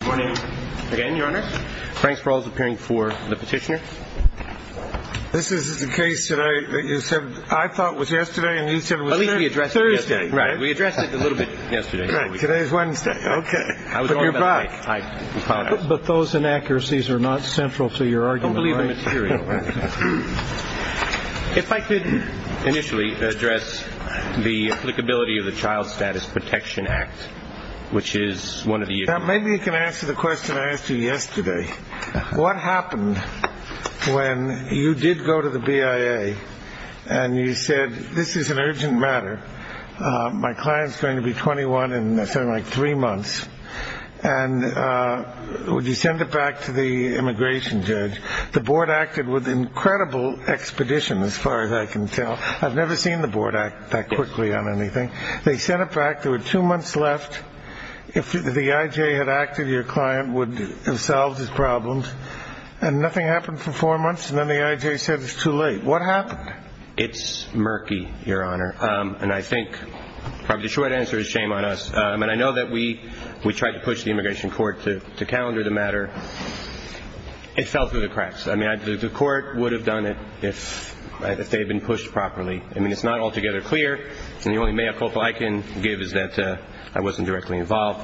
Good morning. Again, Your Honor. Frank Sproul is appearing for the petitioner. This is the case that I thought was yesterday, and you said it was Thursday. At least we addressed it yesterday. Right. We addressed it a little bit yesterday. Today is Wednesday. Okay. But you're back. But those inaccuracies are not central to your argument. Don't believe the material. If I could initially address the applicability of the Child Status Protection Act, which is one of the issues. Maybe you can answer the question I asked you yesterday. What happened when you did go to the BIA and you said this is an urgent matter? My client is going to be 21 in something like three months. And would you send it back to the immigration judge? The board acted with incredible expedition, as far as I can tell. I've never seen the board act that quickly on anything. They sent it back. There were two months left. If the IJ had acted, your client would have solved his problems. And nothing happened for four months, and then the IJ said it's too late. What happened? It's murky, Your Honor. And I think the short answer is shame on us. And I know that we tried to push the immigration court to calendar the matter. It fell through the cracks. I mean, the court would have done it if they had been pushed properly. I mean, it's not altogether clear. And the only mea culpa I can give is that I wasn't directly involved.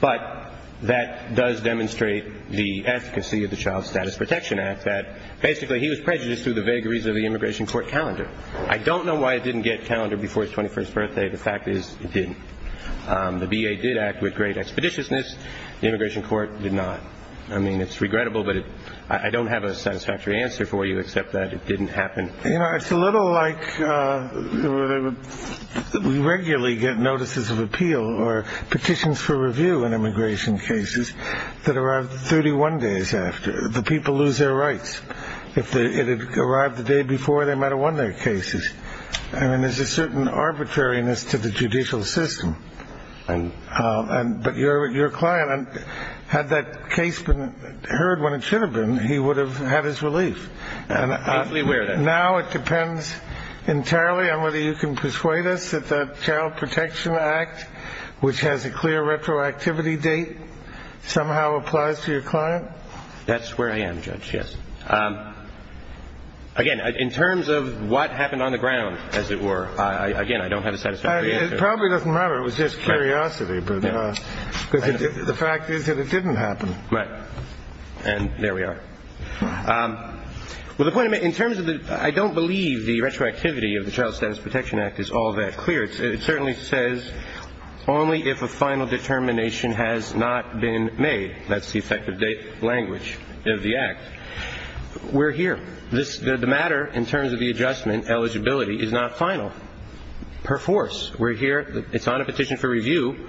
But that does demonstrate the efficacy of the Child Status Protection Act, that basically he was prejudiced through the vagaries of the immigration court calendar. I don't know why it didn't get calendar before his 21st birthday. The fact is it didn't. The BIA did act with great expeditiousness. The immigration court did not. I mean, it's regrettable, but I don't have a satisfactory answer for you except that it didn't happen. You know, it's a little like we regularly get notices of appeal or petitions for review in immigration cases that arrive 31 days after. The people lose their rights. If it had arrived the day before, they might have won their cases. I mean, there's a certain arbitrariness to the judicial system. But your client, had that case been heard when it should have been, he would have had his relief. And now it depends entirely on whether you can persuade us that the Child Protection Act, which has a clear retroactivity date, somehow applies to your client. That's where I am, Judge, yes. Again, in terms of what happened on the ground, as it were, again, I don't have a satisfactory answer. It probably doesn't matter. It was just curiosity, because the fact is that it didn't happen. Right. And there we are. Well, the point I made, in terms of the – I don't believe the retroactivity of the Child Status Protection Act is all that clear. It certainly says only if a final determination has not been made. That's the effective date language of the Act. We're here. The matter, in terms of the adjustment, eligibility, is not final. Per force, we're here. It's on a petition for review.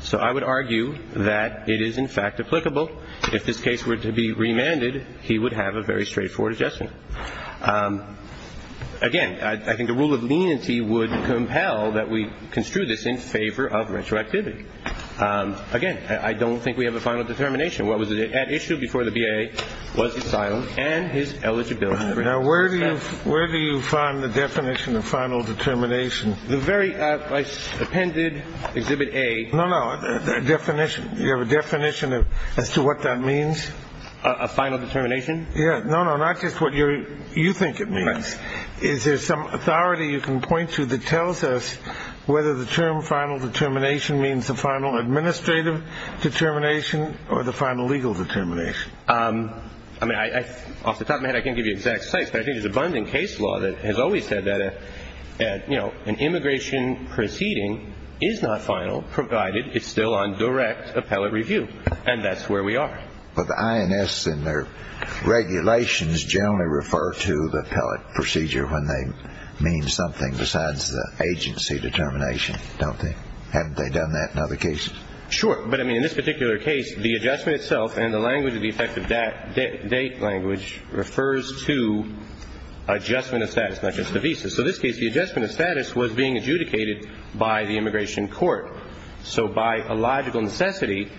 So I would argue that it is, in fact, applicable. If this case were to be remanded, he would have a very straightforward adjustment. Again, I think the rule of leniency would compel that we construe this in favor of retroactivity. Again, I don't think we have a final determination. What was at issue before the BIA was his silence and his eligibility for retroactivity. Now, where do you find the definition of final determination? The very appended Exhibit A. No, no. Definition. Do you have a definition as to what that means? A final determination? Yeah. No, no. Not just what you think it means. Is there some authority you can point to that tells us whether the term final determination means the final administrative determination or the final legal determination? Off the top of my head, I can't give you exact sites, but I think there's abundant case law that has always said that an immigration proceeding is not final, provided it's still on direct appellate review, and that's where we are. But the INS and their regulations generally refer to the appellate procedure when they mean something besides the agency determination, don't they? Haven't they done that in other cases? Sure. But, I mean, in this particular case, the adjustment itself and the language of the effective date language refers to adjustment of status, not just the visa. So in this case, the adjustment of status was being adjudicated by the immigration court. So by a logical necessity,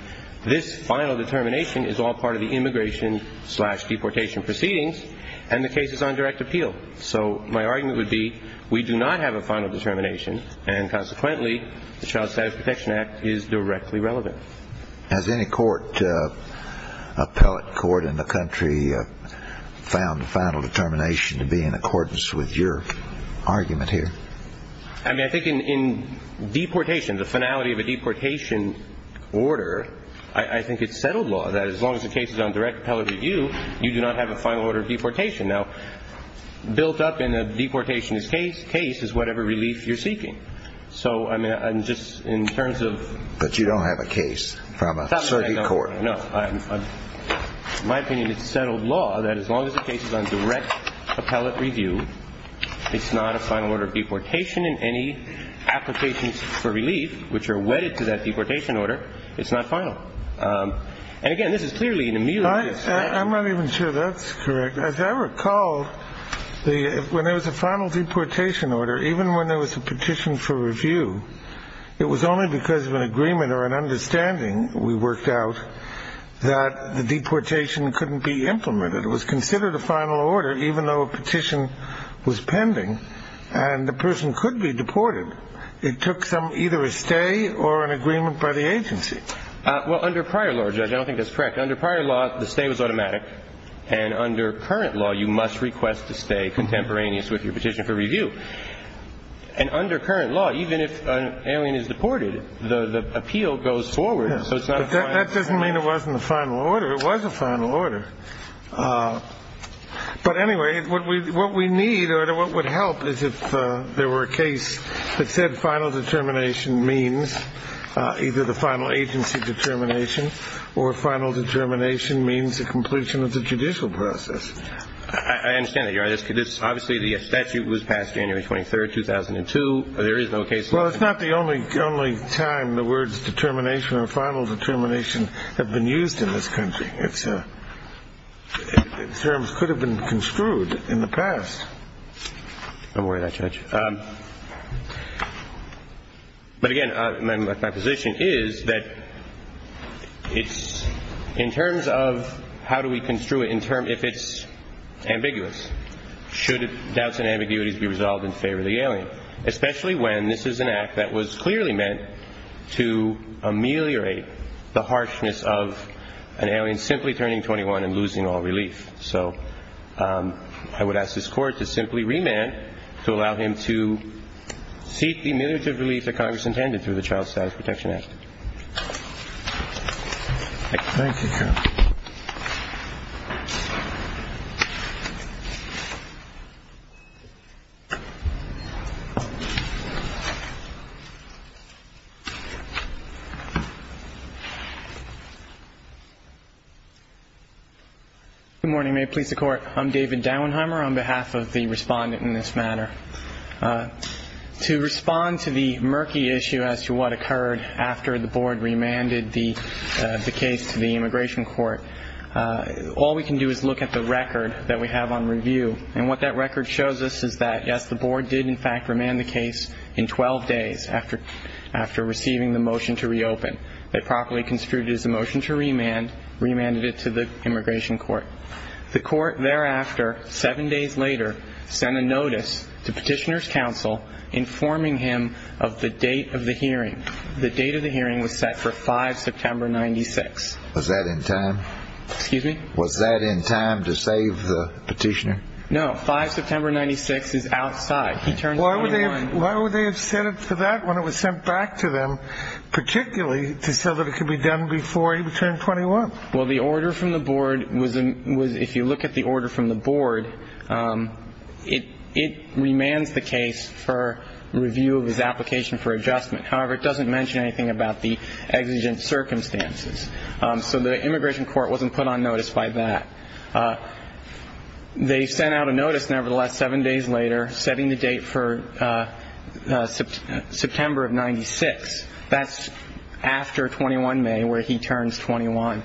this final determination is all part of the immigration slash deportation proceedings and the case is on direct appeal. So my argument would be we do not have a final determination and, consequently, the Child Status Protection Act is directly relevant. Has any court, appellate court in the country, found the final determination to be in accordance with your argument here? I mean, I think in deportation, the finality of a deportation order, I think it's settled law that as long as the case is on direct appellate review, you do not have a final order of deportation. Now, built up in a deportationist case, case is whatever relief you're seeking. So, I mean, just in terms of – But you don't have a case from a surrogate court. No. In my opinion, it's settled law that as long as the case is on direct appellate review, it's not a final order of deportation. And any applications for relief which are wedded to that deportation order, it's not final. And, again, this is clearly an immediate – I'm not even sure that's correct. As I recall, when there was a final deportation order, even when there was a petition for review, it was only because of an agreement or an understanding we worked out that the deportation couldn't be implemented. It was considered a final order, even though a petition was pending, and the person could be deported. It took either a stay or an agreement by the agency. Well, under prior law, Judge, I don't think that's correct. Under prior law, the stay was automatic. And under current law, you must request to stay contemporaneous with your petition for review. And under current law, even if an alien is deported, the appeal goes forward, so it's not a final order. That doesn't mean it wasn't a final order. It was a final order. But, anyway, what we need or what would help is if there were a case that said final determination means either the final agency determination or final determination means the completion of the judicial process. I understand that, Your Honor. Obviously, the statute was passed January 23, 2002. There is no case. Well, it's not the only time the words determination or final determination have been used in this country. Its terms could have been construed in the past. Don't worry about that, Judge. But, again, my position is that it's in terms of how do we construe it if it's ambiguous? Should doubts and ambiguities be resolved in favor of the alien, especially when this is an act that was clearly meant to ameliorate the harshness of an alien simply turning 21 and losing all relief? So I would ask this Court to simply remand to allow him to seek the ameliorative relief that Congress intended through the Child Status Protection Act. Good morning. May it please the Court. I'm David Dauenheimer on behalf of the respondent in this matter. To respond to the murky issue as to what occurred after the Board remanded the case to the Immigration Court, all we can do is look at the record that we have on review. And what that record shows us is that, yes, the Board did, in fact, remand the case in 12 days after receiving the motion to reopen. They properly construed it as a motion to remand, remanded it to the Immigration Court. The Court thereafter, seven days later, sent a notice to Petitioner's Counsel informing him of the date of the hearing. The date of the hearing was set for 5 September, 96. Was that in time? Excuse me? Was that in time to save the Petitioner? No, 5 September, 96 is outside. He turned 21. Why would they have set it for that when it was sent back to them, particularly to say that it could be done before he turned 21? Well, the order from the Board was, if you look at the order from the Board, it remands the case for review of his application for adjustment. However, it doesn't mention anything about the exigent circumstances. So the Immigration Court wasn't put on notice by that. They sent out a notice, nevertheless, seven days later, setting the date for September of 96. That's after 21 May, where he turns 21.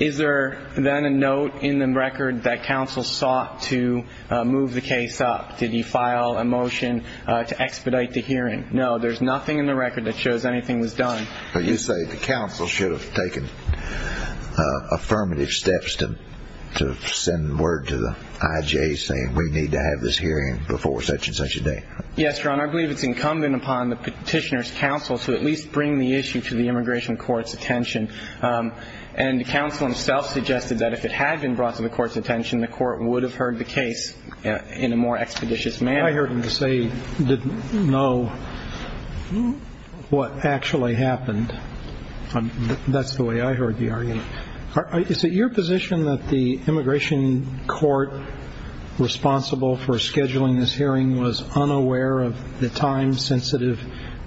Is there then a note in the record that counsel sought to move the case up? Did he file a motion to expedite the hearing? No, there's nothing in the record that shows anything was done. But you say the counsel should have taken affirmative steps to send word to the IJ saying, we need to have this hearing before such-and-such a date. Yes, Your Honor. I believe it's incumbent upon the Petitioner's counsel to at least bring the issue to the Immigration Court's attention. And the counsel himself suggested that if it had been brought to the Court's attention, the Court would have heard the case in a more expeditious manner. I heard him say he didn't know what actually happened. That's the way I heard the argument. Is it your position that the Immigration Court responsible for scheduling this hearing was unaware of the time-sensitive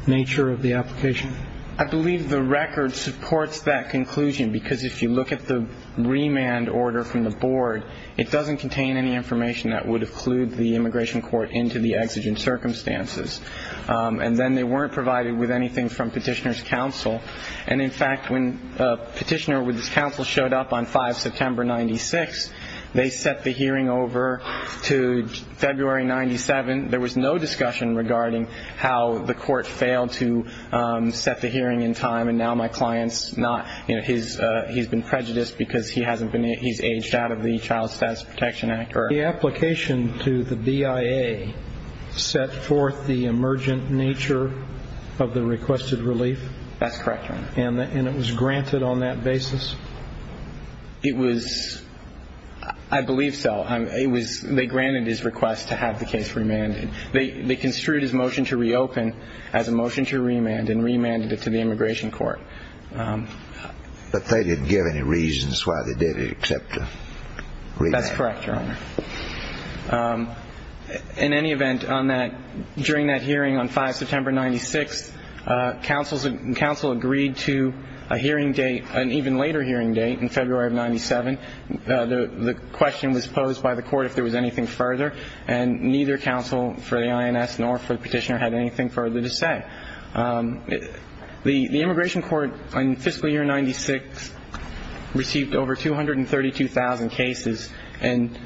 nature of the application? I believe the record supports that conclusion, because if you look at the remand order from the Board, it doesn't contain any information that would have clued the Immigration Court into the exigent circumstances. And then they weren't provided with anything from Petitioner's counsel. And, in fact, when Petitioner with his counsel showed up on 5 September 1996, they set the hearing over to February 1997. There was no discussion regarding how the Court failed to set the hearing in time, and now my client's been prejudiced because he's aged out of the Child Status Protection Act. The application to the BIA set forth the emergent nature of the requested relief? That's correct, Your Honor. And it was granted on that basis? It was... I believe so. They granted his request to have the case remanded. They construed his motion to reopen as a motion to remand and remanded it to the Immigration Court. But they didn't give any reasons why they didn't accept the remand? That's correct, Your Honor. In any event, during that hearing on 5 September 1996, counsel agreed to an even later hearing date in February of 1997. The question was posed by the Court if there was anything further, and neither counsel for the INS nor for the petitioner had anything further to say. The Immigration Court in fiscal year 1996 received over 232,000 cases and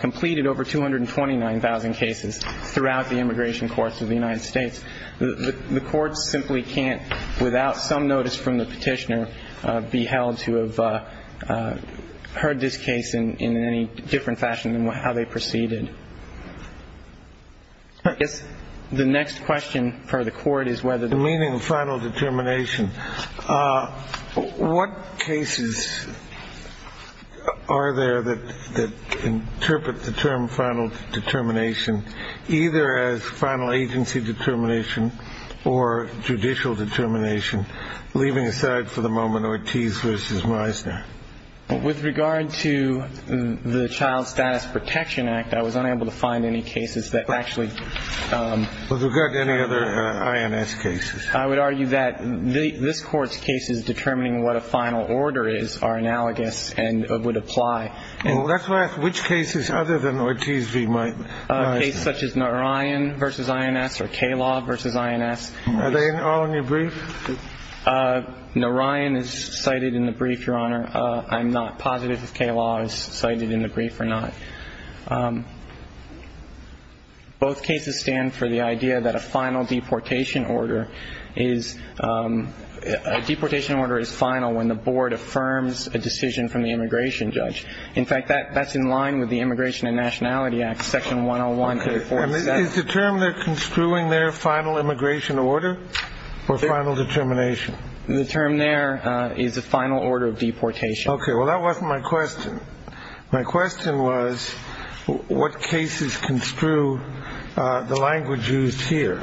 completed over 229,000 cases throughout the Immigration courts of the United States. The courts simply can't, without some notice from the petitioner, be held to have heard this case in any different fashion than how they proceeded. I guess the next question for the Court is whether... The meaning of final determination. What cases are there that interpret the term final determination either as final agency determination or judicial determination, leaving aside for the moment Ortiz v. Meisner? With regard to the Child Status Protection Act, I was unable to find any cases that actually... With regard to any other INS cases. I would argue that this Court's cases determining what a final order is are analogous and would apply. Let's ask which cases other than Ortiz v. Meisner. Cases such as Narayan v. INS or K-Law v. INS. Are they all in your brief? Narayan is cited in the brief, Your Honor. I'm not positive if K-Law is cited in the brief or not. Both cases stand for the idea that a final deportation order is... A deportation order is final when the board affirms a decision from the immigration judge. In fact, that's in line with the Immigration and Nationality Act, Section 101. Is the term they're construing there final immigration order or final determination? The term there is a final order of deportation. Okay. Well, that wasn't my question. My question was what cases construe the language used here,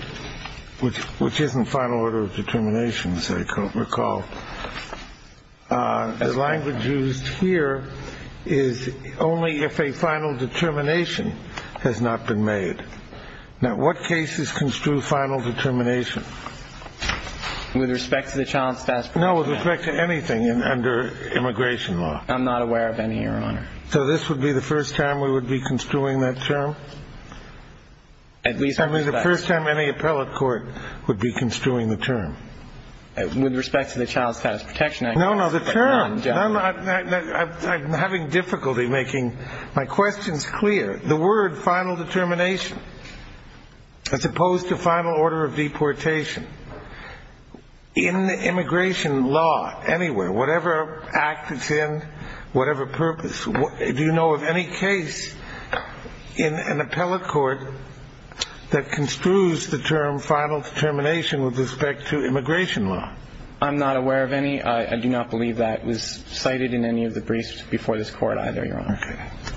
which isn't final order of determination, as I recall. The language used here is only if a final determination has not been made. Now, what cases construe final determination? With respect to the child's passport. No, with respect to anything under immigration law. I'm not aware of any, Your Honor. So this would be the first time we would be construing that term? At least... I mean, the first time any appellate court would be construing the term. With respect to the Child Status Protection Act. No, no, the term... I'm having difficulty making my questions clear. The word final determination, as opposed to final order of deportation, in immigration law, anywhere, whatever act it's in, whatever purpose, do you know of any case in an appellate court that construes the term final determination with respect to immigration law? I'm not aware of any. I do not believe that was cited in any of the briefs before this court either, Your Honor. Okay.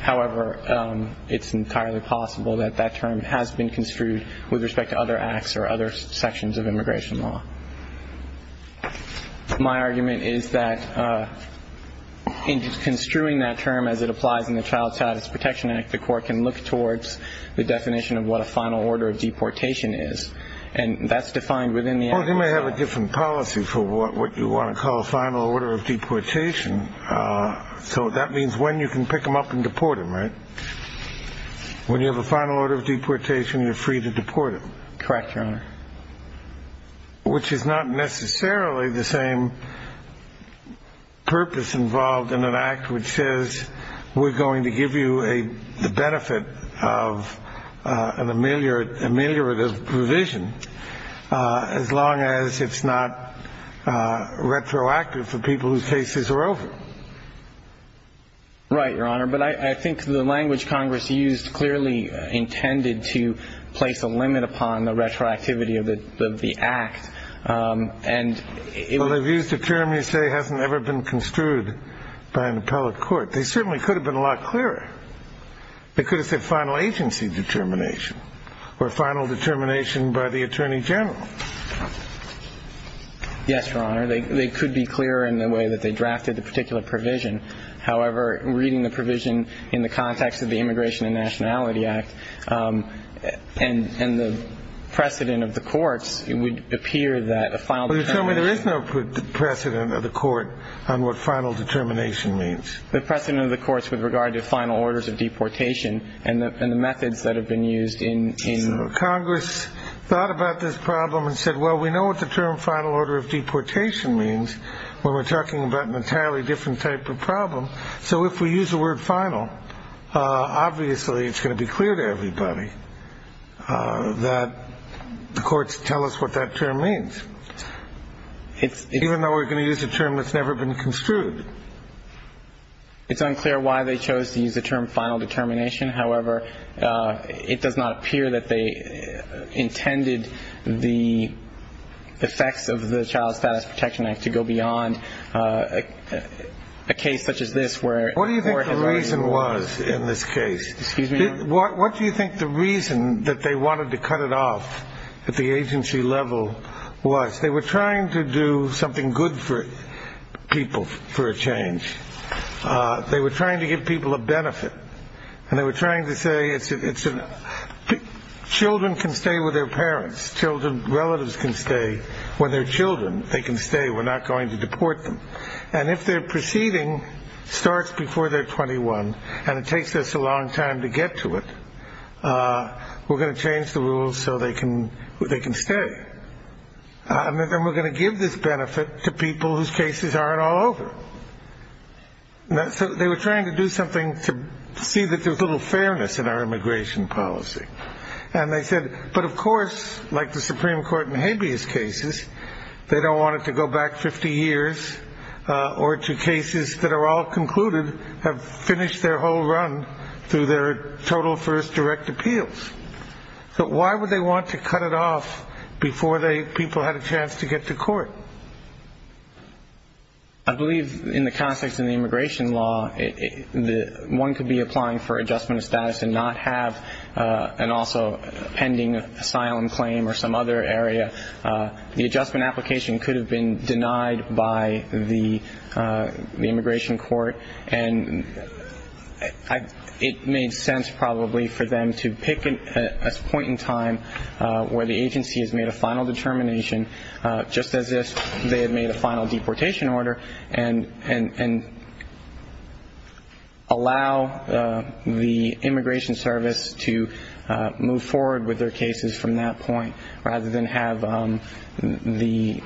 However, it's entirely possible that that term has been construed with respect to other acts or other sections of immigration law. My argument is that in construing that term as it applies in the Child Status Protection Act, the court can look towards the definition of what a final order of deportation is, and that's defined within the act. Well, you may have a different policy for what you want to call a final order of deportation. So that means when you can pick them up and deport them, right? When you have a final order of deportation, you're free to deport them. Correct, Your Honor. Which is not necessarily the same purpose involved in an act which says we're going to give you the benefit of an ameliorative provision, as long as it's not retroactive for people whose cases are over. Right, Your Honor. But I think the language Congress used clearly intended to place a limit upon the retroactivity of the act. Well, they've used a term you say hasn't ever been construed by an appellate court. They certainly could have been a lot clearer. They could have said final agency determination or final determination by the attorney general. Yes, Your Honor. They could be clearer in the way that they drafted the particular provision. However, reading the provision in the context of the Immigration and Nationality Act and the precedent of the courts, it would appear that a final determination. But you're telling me there is no precedent of the court on what final determination means? The precedent of the courts with regard to final orders of deportation and the methods that have been used in... So Congress thought about this problem and said, well, we know what the term final order of deportation means when we're talking about an entirely different type of problem. So if we use the word final, obviously it's going to be clear to everybody that the courts tell us what that term means. Even though we're going to use a term that's never been construed. It's unclear why they chose to use the term final determination. However, it does not appear that they intended the effects of the Child Status Protection Act to go beyond a case such as this where... What do you think the reason was in this case? Excuse me? What do you think the reason that they wanted to cut it off at the agency level was? They were trying to do something good for people for a change. They were trying to give people a benefit. And they were trying to say children can stay with their parents. Relatives can stay with their children. They can stay. We're not going to deport them. And if their proceeding starts before they're 21 and it takes us a long time to get to it, we're going to change the rules so they can stay. And then we're going to give this benefit to people whose cases aren't all over. So they were trying to do something to see that there's a little fairness in our immigration policy. And they said, but of course, like the Supreme Court in Habeas cases, they don't want it to go back 50 years... Or to cases that are all concluded, have finished their whole run through their total first direct appeals. But why would they want to cut it off before people had a chance to get to court? I believe in the context of the immigration law, one could be applying for adjustment of status and not have an also pending asylum claim or some other area. The adjustment application could have been denied by the immigration court. And it made sense probably for them to pick a point in time where the agency has made a final determination, just as if they had made a final deportation order, and allow the immigration service to move forward with their cases from that point, rather than have the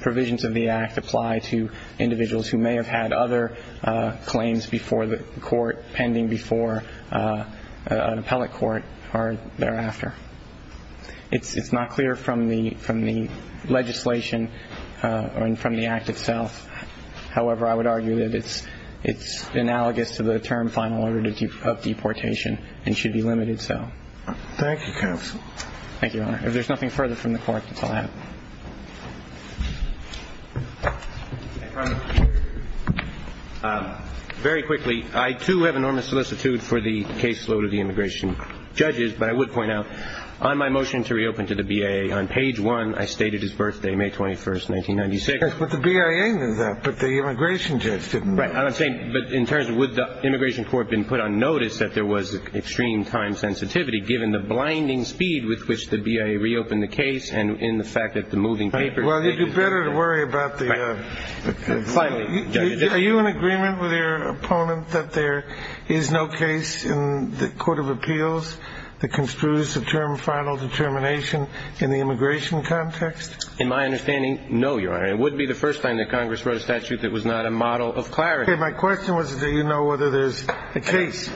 provisions of the act apply to individuals who may have had other claims before the court, pending before an appellate court or thereafter. It's not clear from the legislation or from the act itself. However, I would argue that it's analogous to the term final order of deportation and should be limited so. Thank you, counsel. Thank you, Your Honor. If there's nothing further from the court, that's all I have. Very quickly, I, too, have enormous solicitude for the caseload of the immigration judges, but I would point out on my motion to reopen to the BIA on page one, I stated his birthday, May 21st, 1996. But the BIA did that, but the immigration judge didn't. Right. I'm saying, but in terms of would the immigration court have been put on notice that there was extreme time sensitivity, given the blinding speed with which the BIA reopened the case and in the fact that the moving papers. Well, you do better to worry about the. Finally. Are you in agreement with your opponent that there is no case in the court of appeals that construes the term final determination in the immigration context? In my understanding, no, Your Honor. It would be the first time that Congress wrote a statute that was not a model of clarity. My question was, do you know whether there's a case?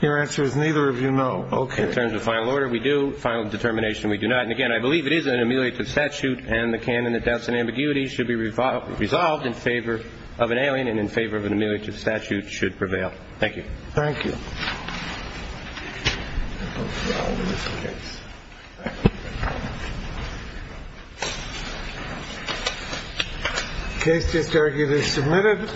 Your answer is neither of you know. Okay. In terms of final order, we do. Final determination, we do not. And, again, I believe it is an ameliorative statute and the canon that doubts and ambiguity should be resolved in favor of an alien and in favor of an ameliorative statute should prevail. Thank you. Thank you. I hope we are all in this together. Case is currently submitted.